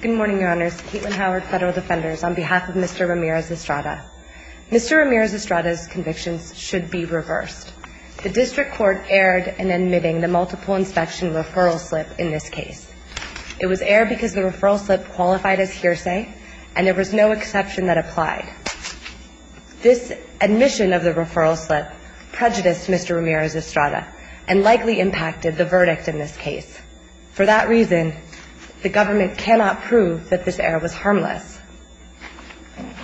Good morning, Your Honors. Caitlin Howard, Federal Defenders, on behalf of Mr. Ramirez-Estrada. Mr. Ramirez-Estrada's convictions should be reversed. The District Court erred in admitting the multiple inspection referral slip in this case. It was erred because the referral slip qualified as hearsay, and there was no exception that applied. This admission of the referral slip prejudiced Mr. Ramirez-Estrada and likely impacted the verdict in this case. For that reason, the government cannot prove that this error was harmless.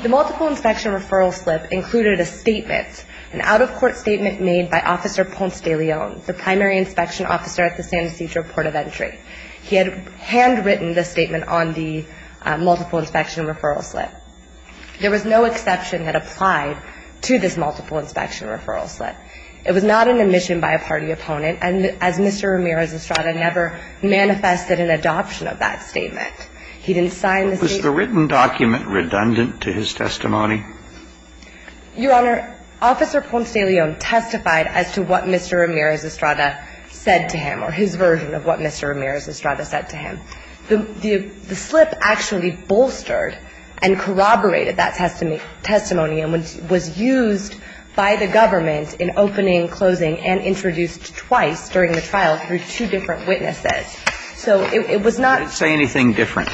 The multiple inspection referral slip included a statement, an out-of-court statement made by Officer Ponce de Leon, the primary inspection officer at the San Ysidro Port of Entry. He had handwritten the statement on the multiple inspection referral slip. There was no exception that applied to this multiple inspection referral slip. It was not an admission by a party opponent, and as Mr. Ramirez-Estrada never manifested an adoption of that statement. He didn't sign the statement. Was the written document redundant to his testimony? Your Honor, Officer Ponce de Leon testified as to what Mr. Ramirez-Estrada said to him, or his version of what Mr. Ramirez-Estrada said to him. The slip actually bolstered and corroborated that testimony and was used by the government in opening, closing, and introduced twice during the trial through two different witnesses. So it was not ---- It didn't say anything different.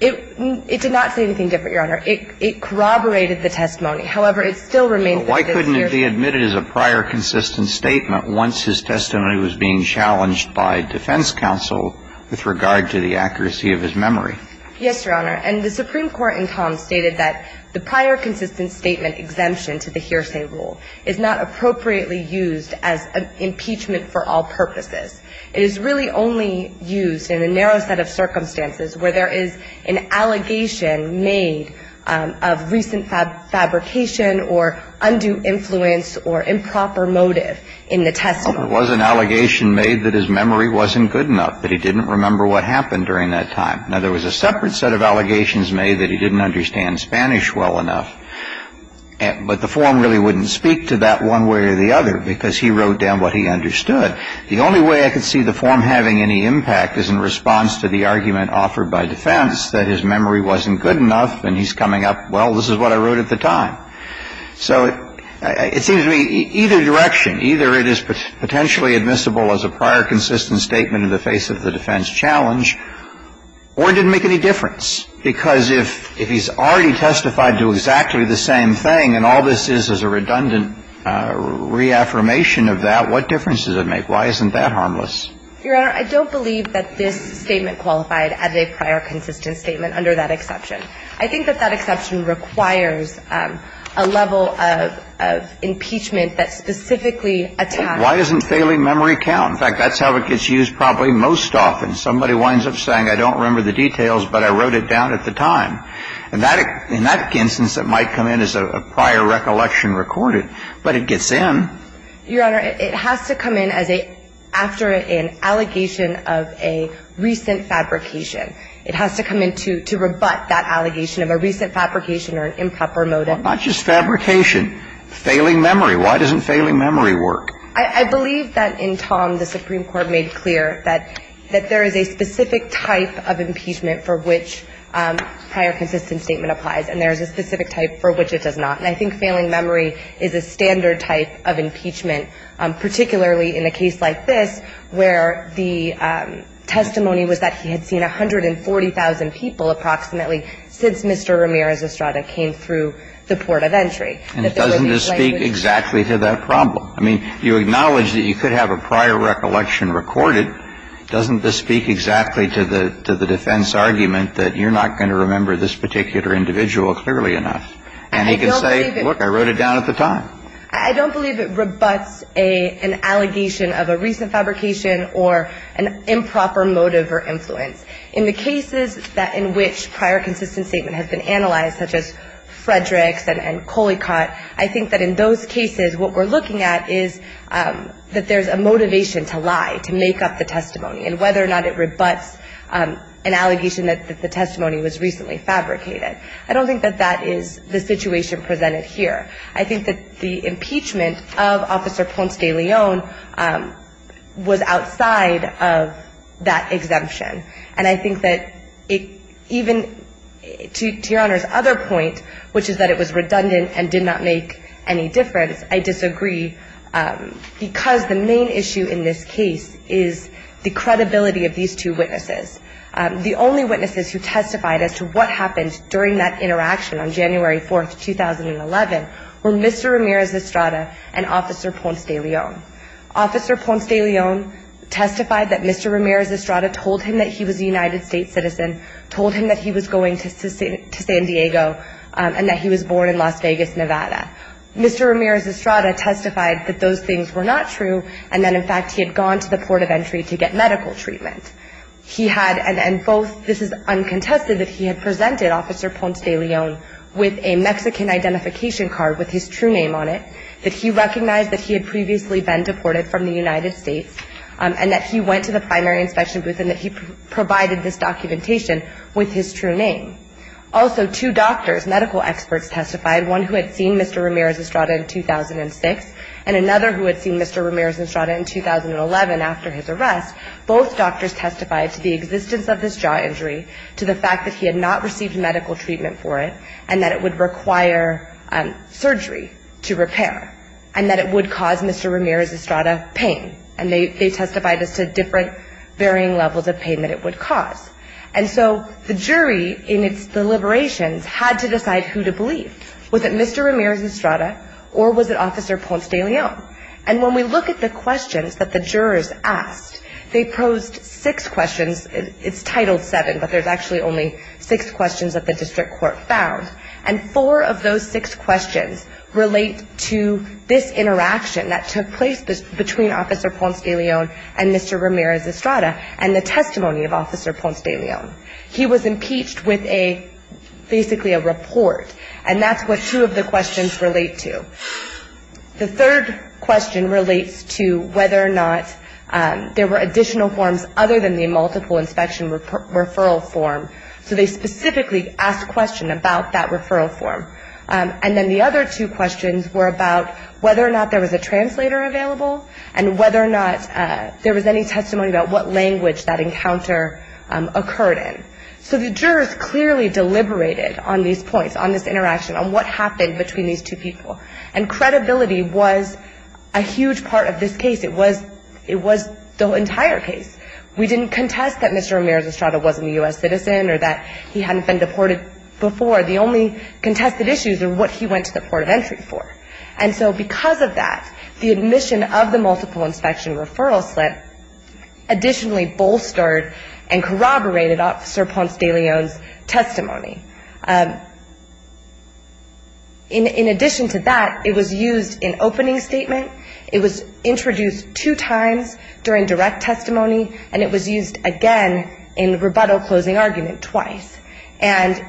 It did not say anything different, Your Honor. It corroborated the testimony. However, it still remains the evidence here. The Supreme Court in Tom stated that the prior consistent statement exemption to the hearsay rule is not appropriately used as an impeachment for all purposes. It is really only used in a narrow set of circumstances where there is an allegation made of recent fabrication or undue influence or improper motive in the testimony. Well, there was an allegation made that his memory wasn't good enough, that he didn't remember what happened during that time. Now, there was a separate set of allegations made that he didn't understand Spanish well enough, but the form really wouldn't speak to that one way or the other because he wrote down what he understood. The only way I could see the form having any impact is in response to the argument offered by defense that his memory wasn't good enough and he's coming up, well, this is what I wrote at the time. So it seems to me either direction, either it is potentially admissible as a prior consistent statement in the face of the defense challenge, or it didn't make any difference. Because if he's already testified to exactly the same thing and all this is is a redundant reaffirmation of that, what difference does it make? Why isn't that harmless? Your Honor, I don't believe that this statement qualified as a prior consistent statement under that exception. I think that that exception requires a level of impeachment that specifically attacks. Why isn't failing memory count? In fact, that's how it gets used probably most often. Somebody winds up saying, I don't remember the details, but I wrote it down at the time. In that instance, it might come in as a prior recollection recorded, but it gets in. Your Honor, it has to come in after an allegation of a recent fabrication. It has to come in to rebut that allegation of a recent fabrication or an improper motive. Well, not just fabrication. Failing memory. Why doesn't failing memory work? I believe that in Tom, the Supreme Court made clear that there is a specific type of impeachment for which prior consistent statement applies. And there is a specific type for which it does not. And I think failing memory is a standard type of impeachment, particularly in a case like this, where the testimony was that he had seen 140,000 people approximately since Mr. Ramirez Estrada came through the port of entry. And it doesn't just speak exactly to that problem. I mean, you acknowledge that you could have a prior recollection recorded. Doesn't this speak exactly to the defense argument that you're not going to remember this particular individual clearly enough? And he can say, look, I wrote it down at the time. I don't believe it rebuts an allegation of a recent fabrication or an improper motive or influence. In the cases in which prior consistent statement has been analyzed, such as Frederick's and Coleycott, I think that in those cases what we're looking at is that there's a motivation to lie, to make up the testimony, and whether or not it rebuts an allegation that the testimony was recently fabricated. I don't think that that is the situation presented here. I think that the impeachment of Officer Ponce de Leon was outside of that exemption. And I think that even to Your Honor's other point, which is that it was redundant and did not make any difference, I disagree because the main issue in this case is the credibility of these two witnesses. The only witnesses who testified as to what happened during that interaction on January 4th, 2011, were Mr. Ramirez Estrada and Officer Ponce de Leon. Officer Ponce de Leon testified that Mr. Ramirez Estrada told him that he was a United States citizen, told him that he was going to San Diego, and that he was born in Las Vegas, Nevada. Mr. Ramirez Estrada testified that those things were not true, and that, in fact, he had gone to the port of entry to get medical treatment. He had, and both, this is uncontested, that he had presented Officer Ponce de Leon with a Mexican identification card with his true name on it, that he recognized that he had previously been deported from the United States, and that he went to the primary inspection booth, and that he provided this documentation with his true name. Also, two doctors, medical experts testified, one who had seen Mr. Ramirez Estrada in 2006, and another who had seen Mr. Ramirez Estrada in 2011 after his arrest. Both doctors testified to the existence of this jaw injury, to the fact that he had not received medical treatment for it, and that it would require surgery to repair, and that it would cause Mr. Ramirez Estrada pain. And they testified as to different varying levels of pain that it would cause. And so the jury, in its deliberations, had to decide who to believe. Was it Mr. Ramirez Estrada, or was it Officer Ponce de Leon? And when we look at the questions that the jurors asked, they posed six questions. It's titled seven, but there's actually only six questions that the district court found. And four of those six questions relate to this interaction that took place between Officer Ponce de Leon and Mr. Ramirez Estrada, and the testimony of Officer Ponce de Leon. He was impeached with basically a report, and that's what two of the questions relate to. The third question relates to whether or not there were additional forms other than the multiple inspection referral form. So they specifically asked a question about that referral form. And then the other two questions were about whether or not there was a translator available and whether or not there was any testimony about what language that encounter occurred in. So the jurors clearly deliberated on these points, on this interaction, on what happened between these two people. And credibility was a huge part of this case. It was the entire case. We didn't contest that Mr. Ramirez Estrada wasn't a U.S. citizen or that he hadn't been deported before. The only contested issues are what he went to the port of entry for. And so because of that, the admission of the multiple inspection referral slip additionally bolstered and corroborated Officer Ponce de Leon's testimony. In addition to that, it was used in opening statement. It was introduced two times during direct testimony. And it was used again in rebuttal closing argument twice. And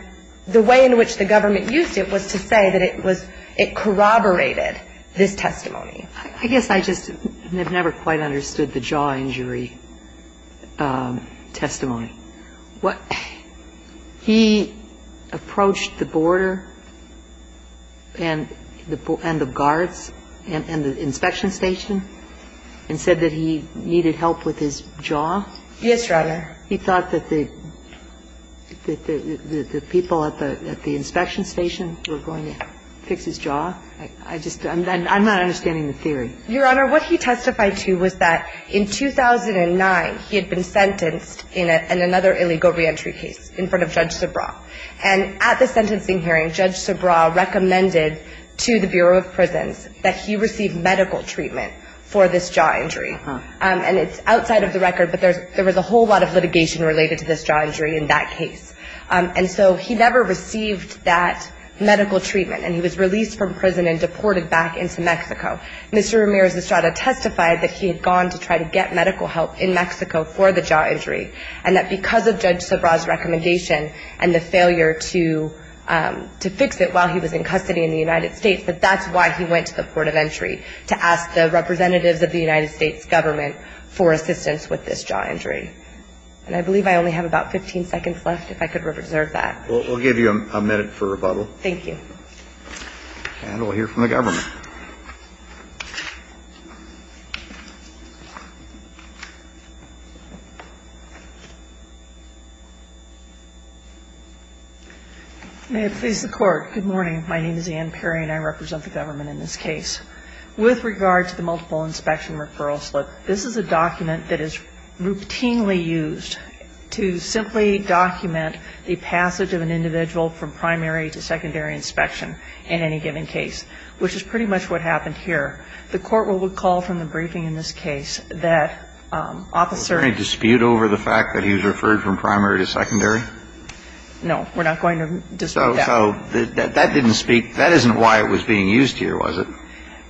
the way in which the government used it was to say that it was, it corroborated this testimony. I guess I just have never quite understood the jaw injury testimony. He approached the border and the guards and the inspection station and said that he needed help with his jaw? Yes, Your Honor. He thought that the people at the inspection station were going to fix his jaw? I just, I'm not understanding the theory. Your Honor, what he testified to was that in 2009 he had been sentenced in another illegal reentry case in front of Judge Sobraw. And at the sentencing hearing, Judge Sobraw recommended to the Bureau of Prisons that he receive medical treatment for this jaw injury. And it's outside of the record, but there was a whole lot of litigation related to this jaw injury in that case. And so he never received that medical treatment. And he was released from prison and deported back into Mexico. Mr. Ramirez Estrada testified that he had gone to try to get medical help in Mexico for the jaw injury. And that because of Judge Sobraw's recommendation and the failure to fix it while he was in custody in the United States, that that's why he went to the port of entry, to ask the representatives of the United States government for assistance with this jaw injury. And I believe I only have about 15 seconds left, if I could reserve that. We'll give you a minute for rebuttal. Thank you. And we'll hear from the government. May it please the Court. Good morning. My name is Ann Perry, and I represent the government in this case. With regard to the multiple inspection referral slip, this is a document that is routinely used to simply document the passage of an individual from primary to secondary inspection in any given case, which is pretty much what happened here. The Court will recall from the briefing in this case that Officer ---- Was there any dispute over the fact that he was referred from primary to secondary? No. We're not going to dispute that. So that didn't speak ---- that isn't why it was being used here, was it?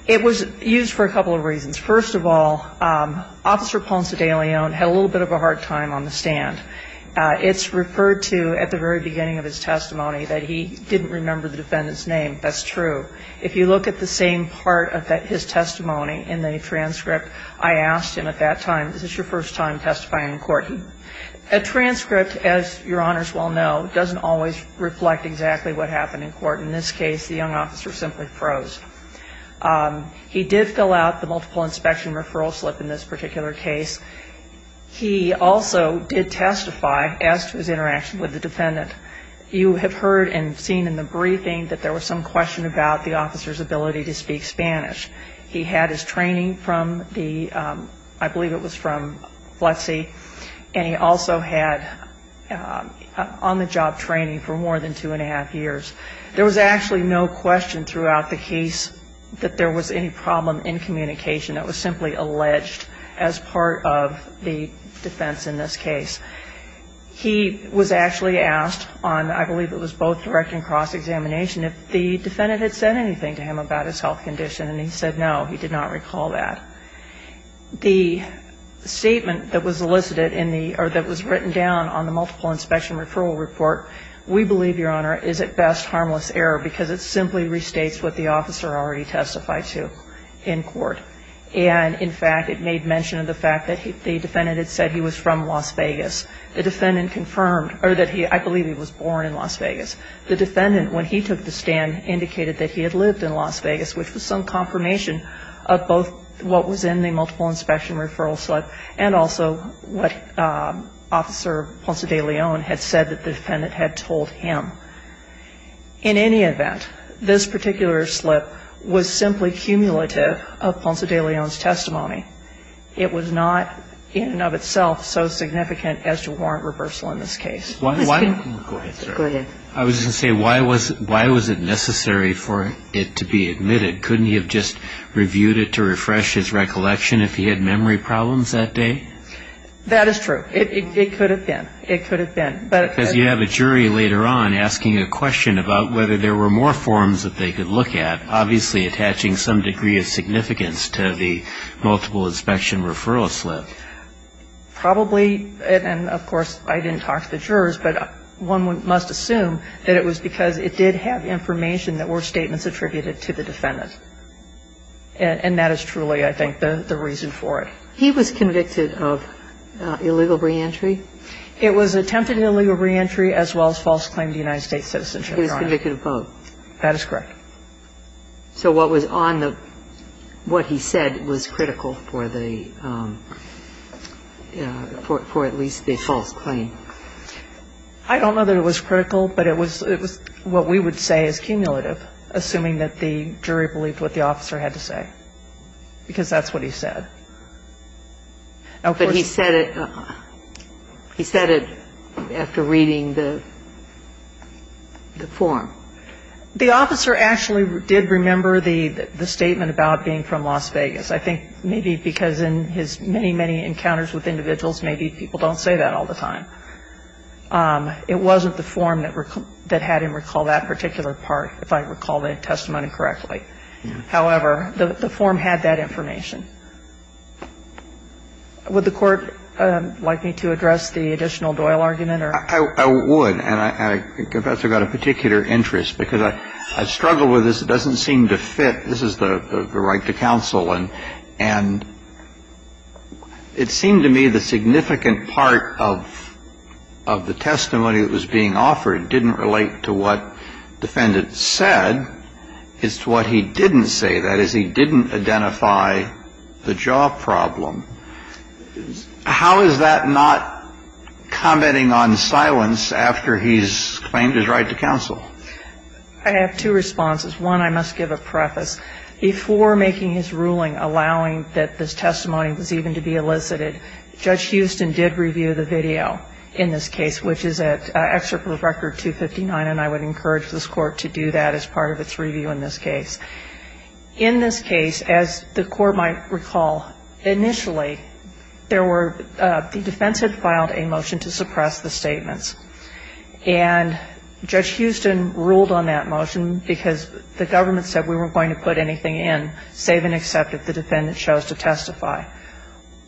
It was used for a couple of reasons. First of all, Officer Ponce de Leon had a little bit of a hard time on the stand. It's referred to at the very beginning of his testimony that he didn't remember the defendant's name. That's true. If you look at the same part of his testimony in the transcript, I asked him at that time, is this your first time testifying in court? A transcript, as Your Honors well know, doesn't always reflect exactly what happened in court. In this case, the young officer simply froze. He did fill out the multiple inspection referral slip in this particular case. He also did testify as to his interaction with the defendant. You have heard and seen in the briefing that there was some question about the officer's ability to speak Spanish. He had his training from the ---- I believe it was from FLETC, and he also had on-the-job training for more than two and a half years. There was actually no question throughout the case that there was any problem in communication. It was simply alleged as part of the defense in this case. He was actually asked on, I believe it was both direct and cross-examination, if the defendant had said anything to him about his health condition, and he said no, he did not recall that. The statement that was elicited in the or that was written down on the multiple inspection referral report, we believe, Your Honor, is at best harmless error, because it simply restates what the officer already testified to in court. And, in fact, it made mention of the fact that the defendant had said he was from Las Vegas. The defendant confirmed, or that he, I believe he was born in Las Vegas. The defendant, when he took the stand, indicated that he had lived in Las Vegas, which was some confirmation of both what was in the multiple inspection referral slip and also what Officer Ponce de Leon had said that the defendant had told him. In any event, this particular slip was simply cumulative of Ponce de Leon's testimony. It was not in and of itself so significant as to warrant reversal in this case. Go ahead, sir. Go ahead. I was going to say, why was it necessary for it to be admitted? Couldn't he have just reviewed it to refresh his recollection if he had memory problems that day? That is true. It could have been. It could have been. Because you have a jury later on asking a question about whether there were more forms that they could look at, obviously attaching some degree of significance to the multiple inspection referral slip. Probably, and, of course, I didn't talk to the jurors, but one must assume that it was because it did have information that were statements attributed to the defendant. And that is truly, I think, the reason for it. He was convicted of illegal reentry? It was attempted illegal reentry as well as false claim to United States citizenship. He was convicted of both. That is correct. So what was on the – what he said was critical for the – for at least the false claim. I don't know that it was critical, but it was what we would say is cumulative, assuming that the jury believed what the officer had to say, because that's what he said. But he said it – he said it after reading the form. The officer actually did remember the statement about being from Las Vegas. I think maybe because in his many, many encounters with individuals, maybe people don't say that all the time. It wasn't the form that had him recall that particular part, if I recall the testimony correctly. However, the form had that information. Would the Court like me to address the additional Doyle argument? I would. And I think Professor got a particular interest, because I struggle with this. It doesn't seem to fit. This is the right to counsel. And it seemed to me the significant part of the testimony that was being offered didn't relate to what the defendant said. It's what he didn't say. That is, he didn't identify the job problem. How is that not commenting on silence after he's claimed his right to counsel? I have two responses. One, I must give a preface. Before making his ruling, allowing that this testimony was even to be elicited, Judge Houston did review the video in this case, which is at Excerpt of Record 259. And I would encourage this Court to do that as part of its review in this case. In this case, as the Court might recall, initially, there were the defense had filed a motion to suppress the statements. And Judge Houston ruled on that motion because the government said we weren't going to put anything in, save and accept if the defendant chose to testify.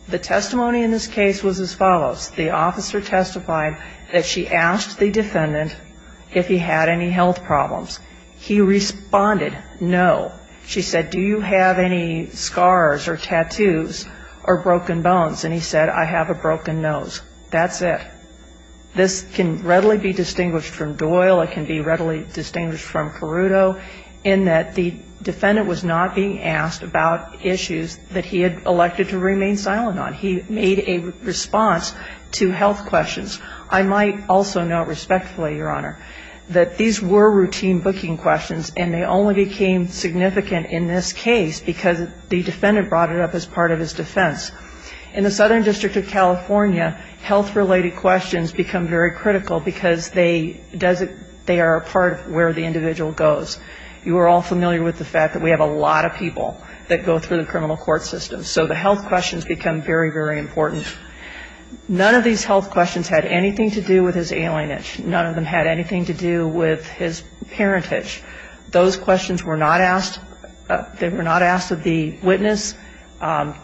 The testimony in this case was as follows. The officer testified that she asked the defendant if he had any health problems. He responded, no. She said, do you have any scars or tattoos or broken bones? And he said, I have a broken nose. That's it. This can readily be distinguished from Doyle. It can be readily distinguished from Caruto in that the defendant was not being asked about issues that he had elected to remain silent on. He made a response to health questions. I might also note respectfully, Your Honor, that these were routine booking questions, and they only became significant in this case because the defendant brought it up as part of his defense. In the Southern District of California, health-related questions become very critical because they are a part of where the individual goes. You are all familiar with the fact that we have a lot of people that go through the criminal court system. So the health questions become very, very important. None of these health questions had anything to do with his alienage. None of them had anything to do with his parentage. Those questions were not asked. They were not asked of the witness.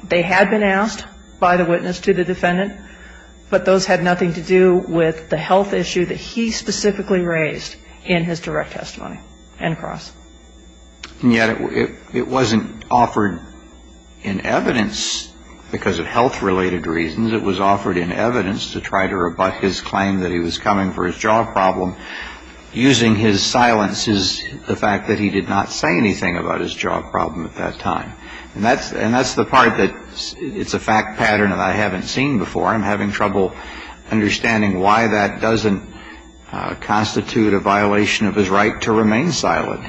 They had been asked by the witness to the defendant, but those had nothing to do with the health issue that he specifically raised in his direct testimony. End of cross. And yet it wasn't offered in evidence because of health-related reasons. It was offered in evidence to try to rebut his claim that he was coming for his job problem using his silences, the fact that he did not say anything about his job problem at that time. And that's the part that it's a fact pattern that I haven't seen before. I'm having trouble understanding why that doesn't constitute a violation of his right to remain silent.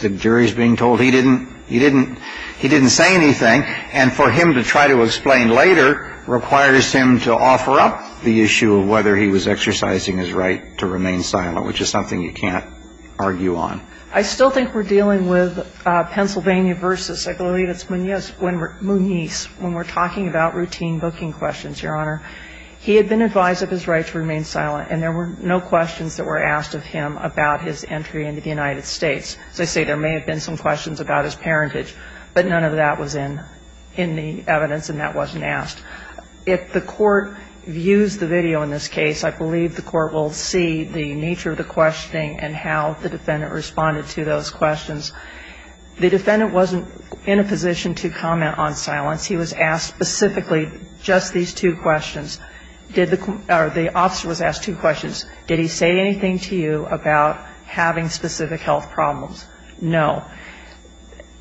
The jury is being told he didn't say anything. And for him to try to explain later requires him to offer up the issue of whether he was exercising his right to remain silent, which is something you can't argue on. I still think we're dealing with Pennsylvania v. Eglalitas Muniz when we're talking about routine booking questions, Your Honor. He had been advised of his right to remain silent, and there were no questions that were asked of him about his entry into the United States. As I say, there may have been some questions about his parentage, but none of that was in the evidence and that wasn't asked. If the Court views the video in this case, I believe the Court will see the nature of the questioning and how the defendant responded to those questions. The defendant wasn't in a position to comment on silence. He was asked specifically just these two questions. The officer was asked two questions. Did he say anything to you about having specific health problems? No.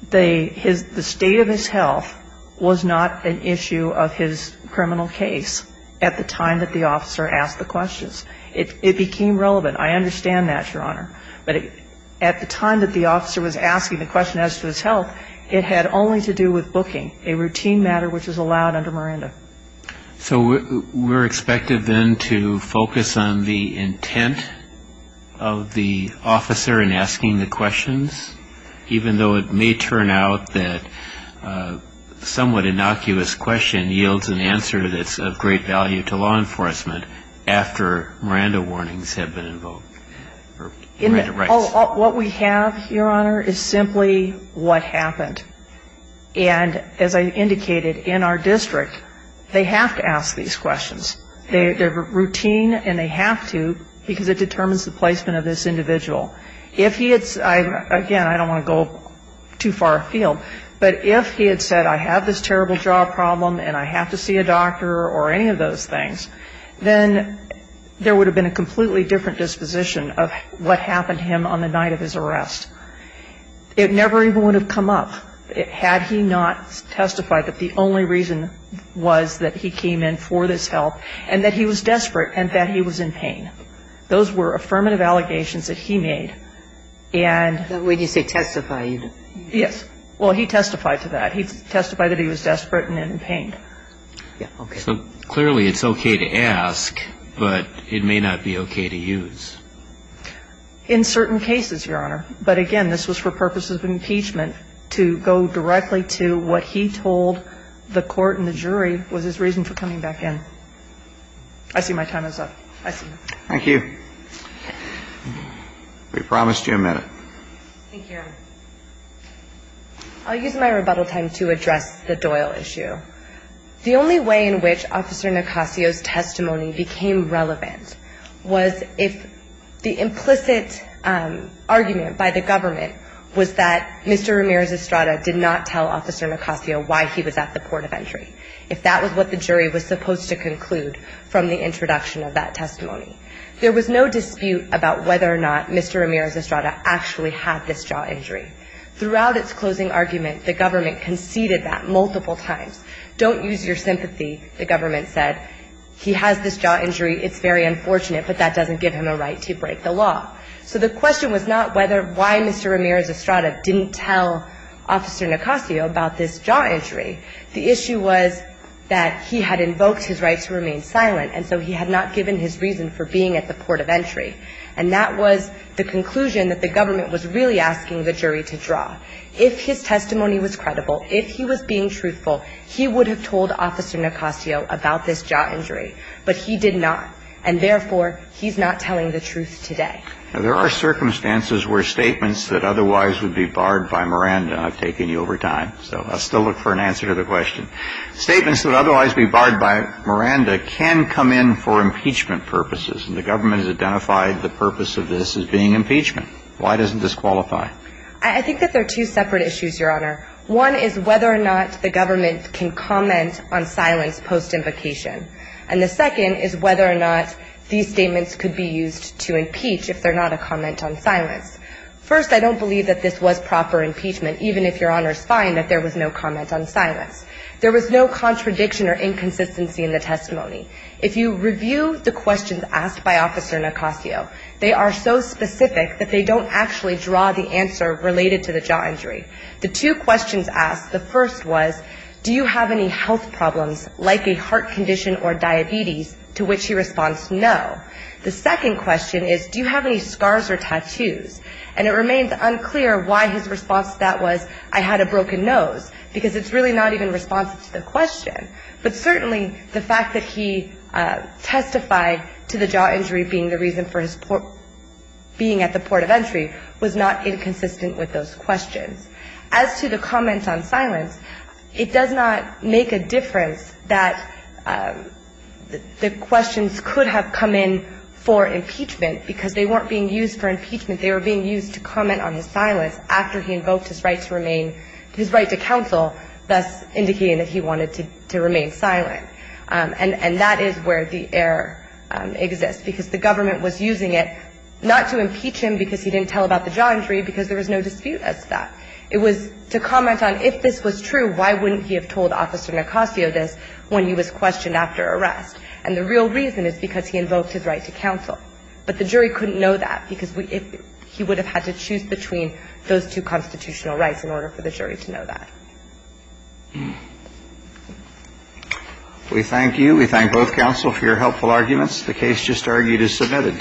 The state of his health was not an issue of his criminal case at the time that the officer asked the questions. It became relevant. I understand that, Your Honor. But at the time that the officer was asking the question as to his health, it had only to do with booking, a routine matter which is allowed under Miranda. So we're expected then to focus on the intent of the officer in asking the questions, even though it may turn out that a somewhat innocuous question yields an answer that's of great value to law enforcement after Miranda warnings have been invoked or Miranda rights. What we have, Your Honor, is simply what happened. And as I indicated, in our district, they have to ask these questions. They're routine and they have to because it determines the placement of this individual. If he had said, again, I don't want to go too far afield, but if he had said I have this terrible jaw problem and I have to see a doctor or any of those things, then there would have been a completely different disposition of what happened to him on the night of his arrest. It never even would have come up had he not testified that the only reason was that he came in for this help and that he was desperate and that he was in pain. Those were affirmative allegations that he made. And when you say testified. Yes. Well, he testified to that. He testified that he was desperate and in pain. Yeah. Okay. So clearly it's okay to ask, but it may not be okay to use. In certain cases, Your Honor. But again, this was for purposes of impeachment to go directly to what he told the court and the jury was his reason for coming back in. I see my time is up. I see. Thank you. We promised you a minute. Thank you, Your Honor. I'll use my rebuttal time to address the Doyle issue. The only way in which Officer Nicasio's testimony became relevant was if the implicit argument by the government was that Mr. Ramirez-Estrada did not tell Officer Nicasio why he was at the port of entry, if that was what the jury was supposed to conclude from the introduction of that testimony. There was no dispute about whether or not Mr. Ramirez-Estrada actually had this jaw injury. Throughout its closing argument, the government conceded that multiple times. Don't use your sympathy, the government said. He has this jaw injury. It's very unfortunate, but that doesn't give him a right to break the law. So the question was not why Mr. Ramirez-Estrada didn't tell Officer Nicasio about this jaw injury. The issue was that he had invoked his right to remain silent, and so he had not given his reason for being at the port of entry. And that was the conclusion that the government was really asking the jury to draw. If his testimony was credible, if he was being truthful, he would have told Officer Nicasio about this jaw injury, but he did not. And therefore, he's not telling the truth today. There are circumstances where statements that otherwise would be barred by Miranda I've taken you over time, so I'll still look for an answer to the question. Statements that would otherwise be barred by Miranda can come in for impeachment purposes, and the government has identified the purpose of this as being impeachment. Why doesn't this qualify? I think that there are two separate issues, Your Honor. One is whether or not the government can comment on silence post-invocation. And the second is whether or not these statements could be used to impeach if they're not a comment on silence. First, I don't believe that this was proper impeachment, even if Your Honor's fine that there was no comment on silence. There was no contradiction or inconsistency in the testimony. If you review the questions asked by Officer Nicasio, they are so specific that they don't actually draw the answer related to the jaw injury. The two questions asked, the first was, do you have any health problems, like a heart condition or diabetes, to which he responds no. The second question is, do you have any scars or tattoos? And it remains unclear why his response to that was, I had a broken nose, because it's really not even responsive to the question. But certainly the fact that he testified to the jaw injury being the reason for his being at the port of entry was not inconsistent with those questions. As to the comments on silence, it does not make a difference that the questions could have come in for impeachment, because they weren't being used for impeachment. They were being used to comment on his silence after he invoked his right to remain, his right to counsel, thus indicating that he wanted to remain silent. And that is where the error exists, because the government was using it not to impeach him because he didn't tell about the jaw injury, because there was no dispute as to that. It was to comment on if this was true, why wouldn't he have told Officer Nicasio this when he was questioned after arrest? And the real reason is because he invoked his right to counsel. But the jury couldn't know that, because he would have had to choose between those two constitutional rights in order for the jury to know that. We thank you. We thank both counsel for your helpful arguments. The case just argued is submitted.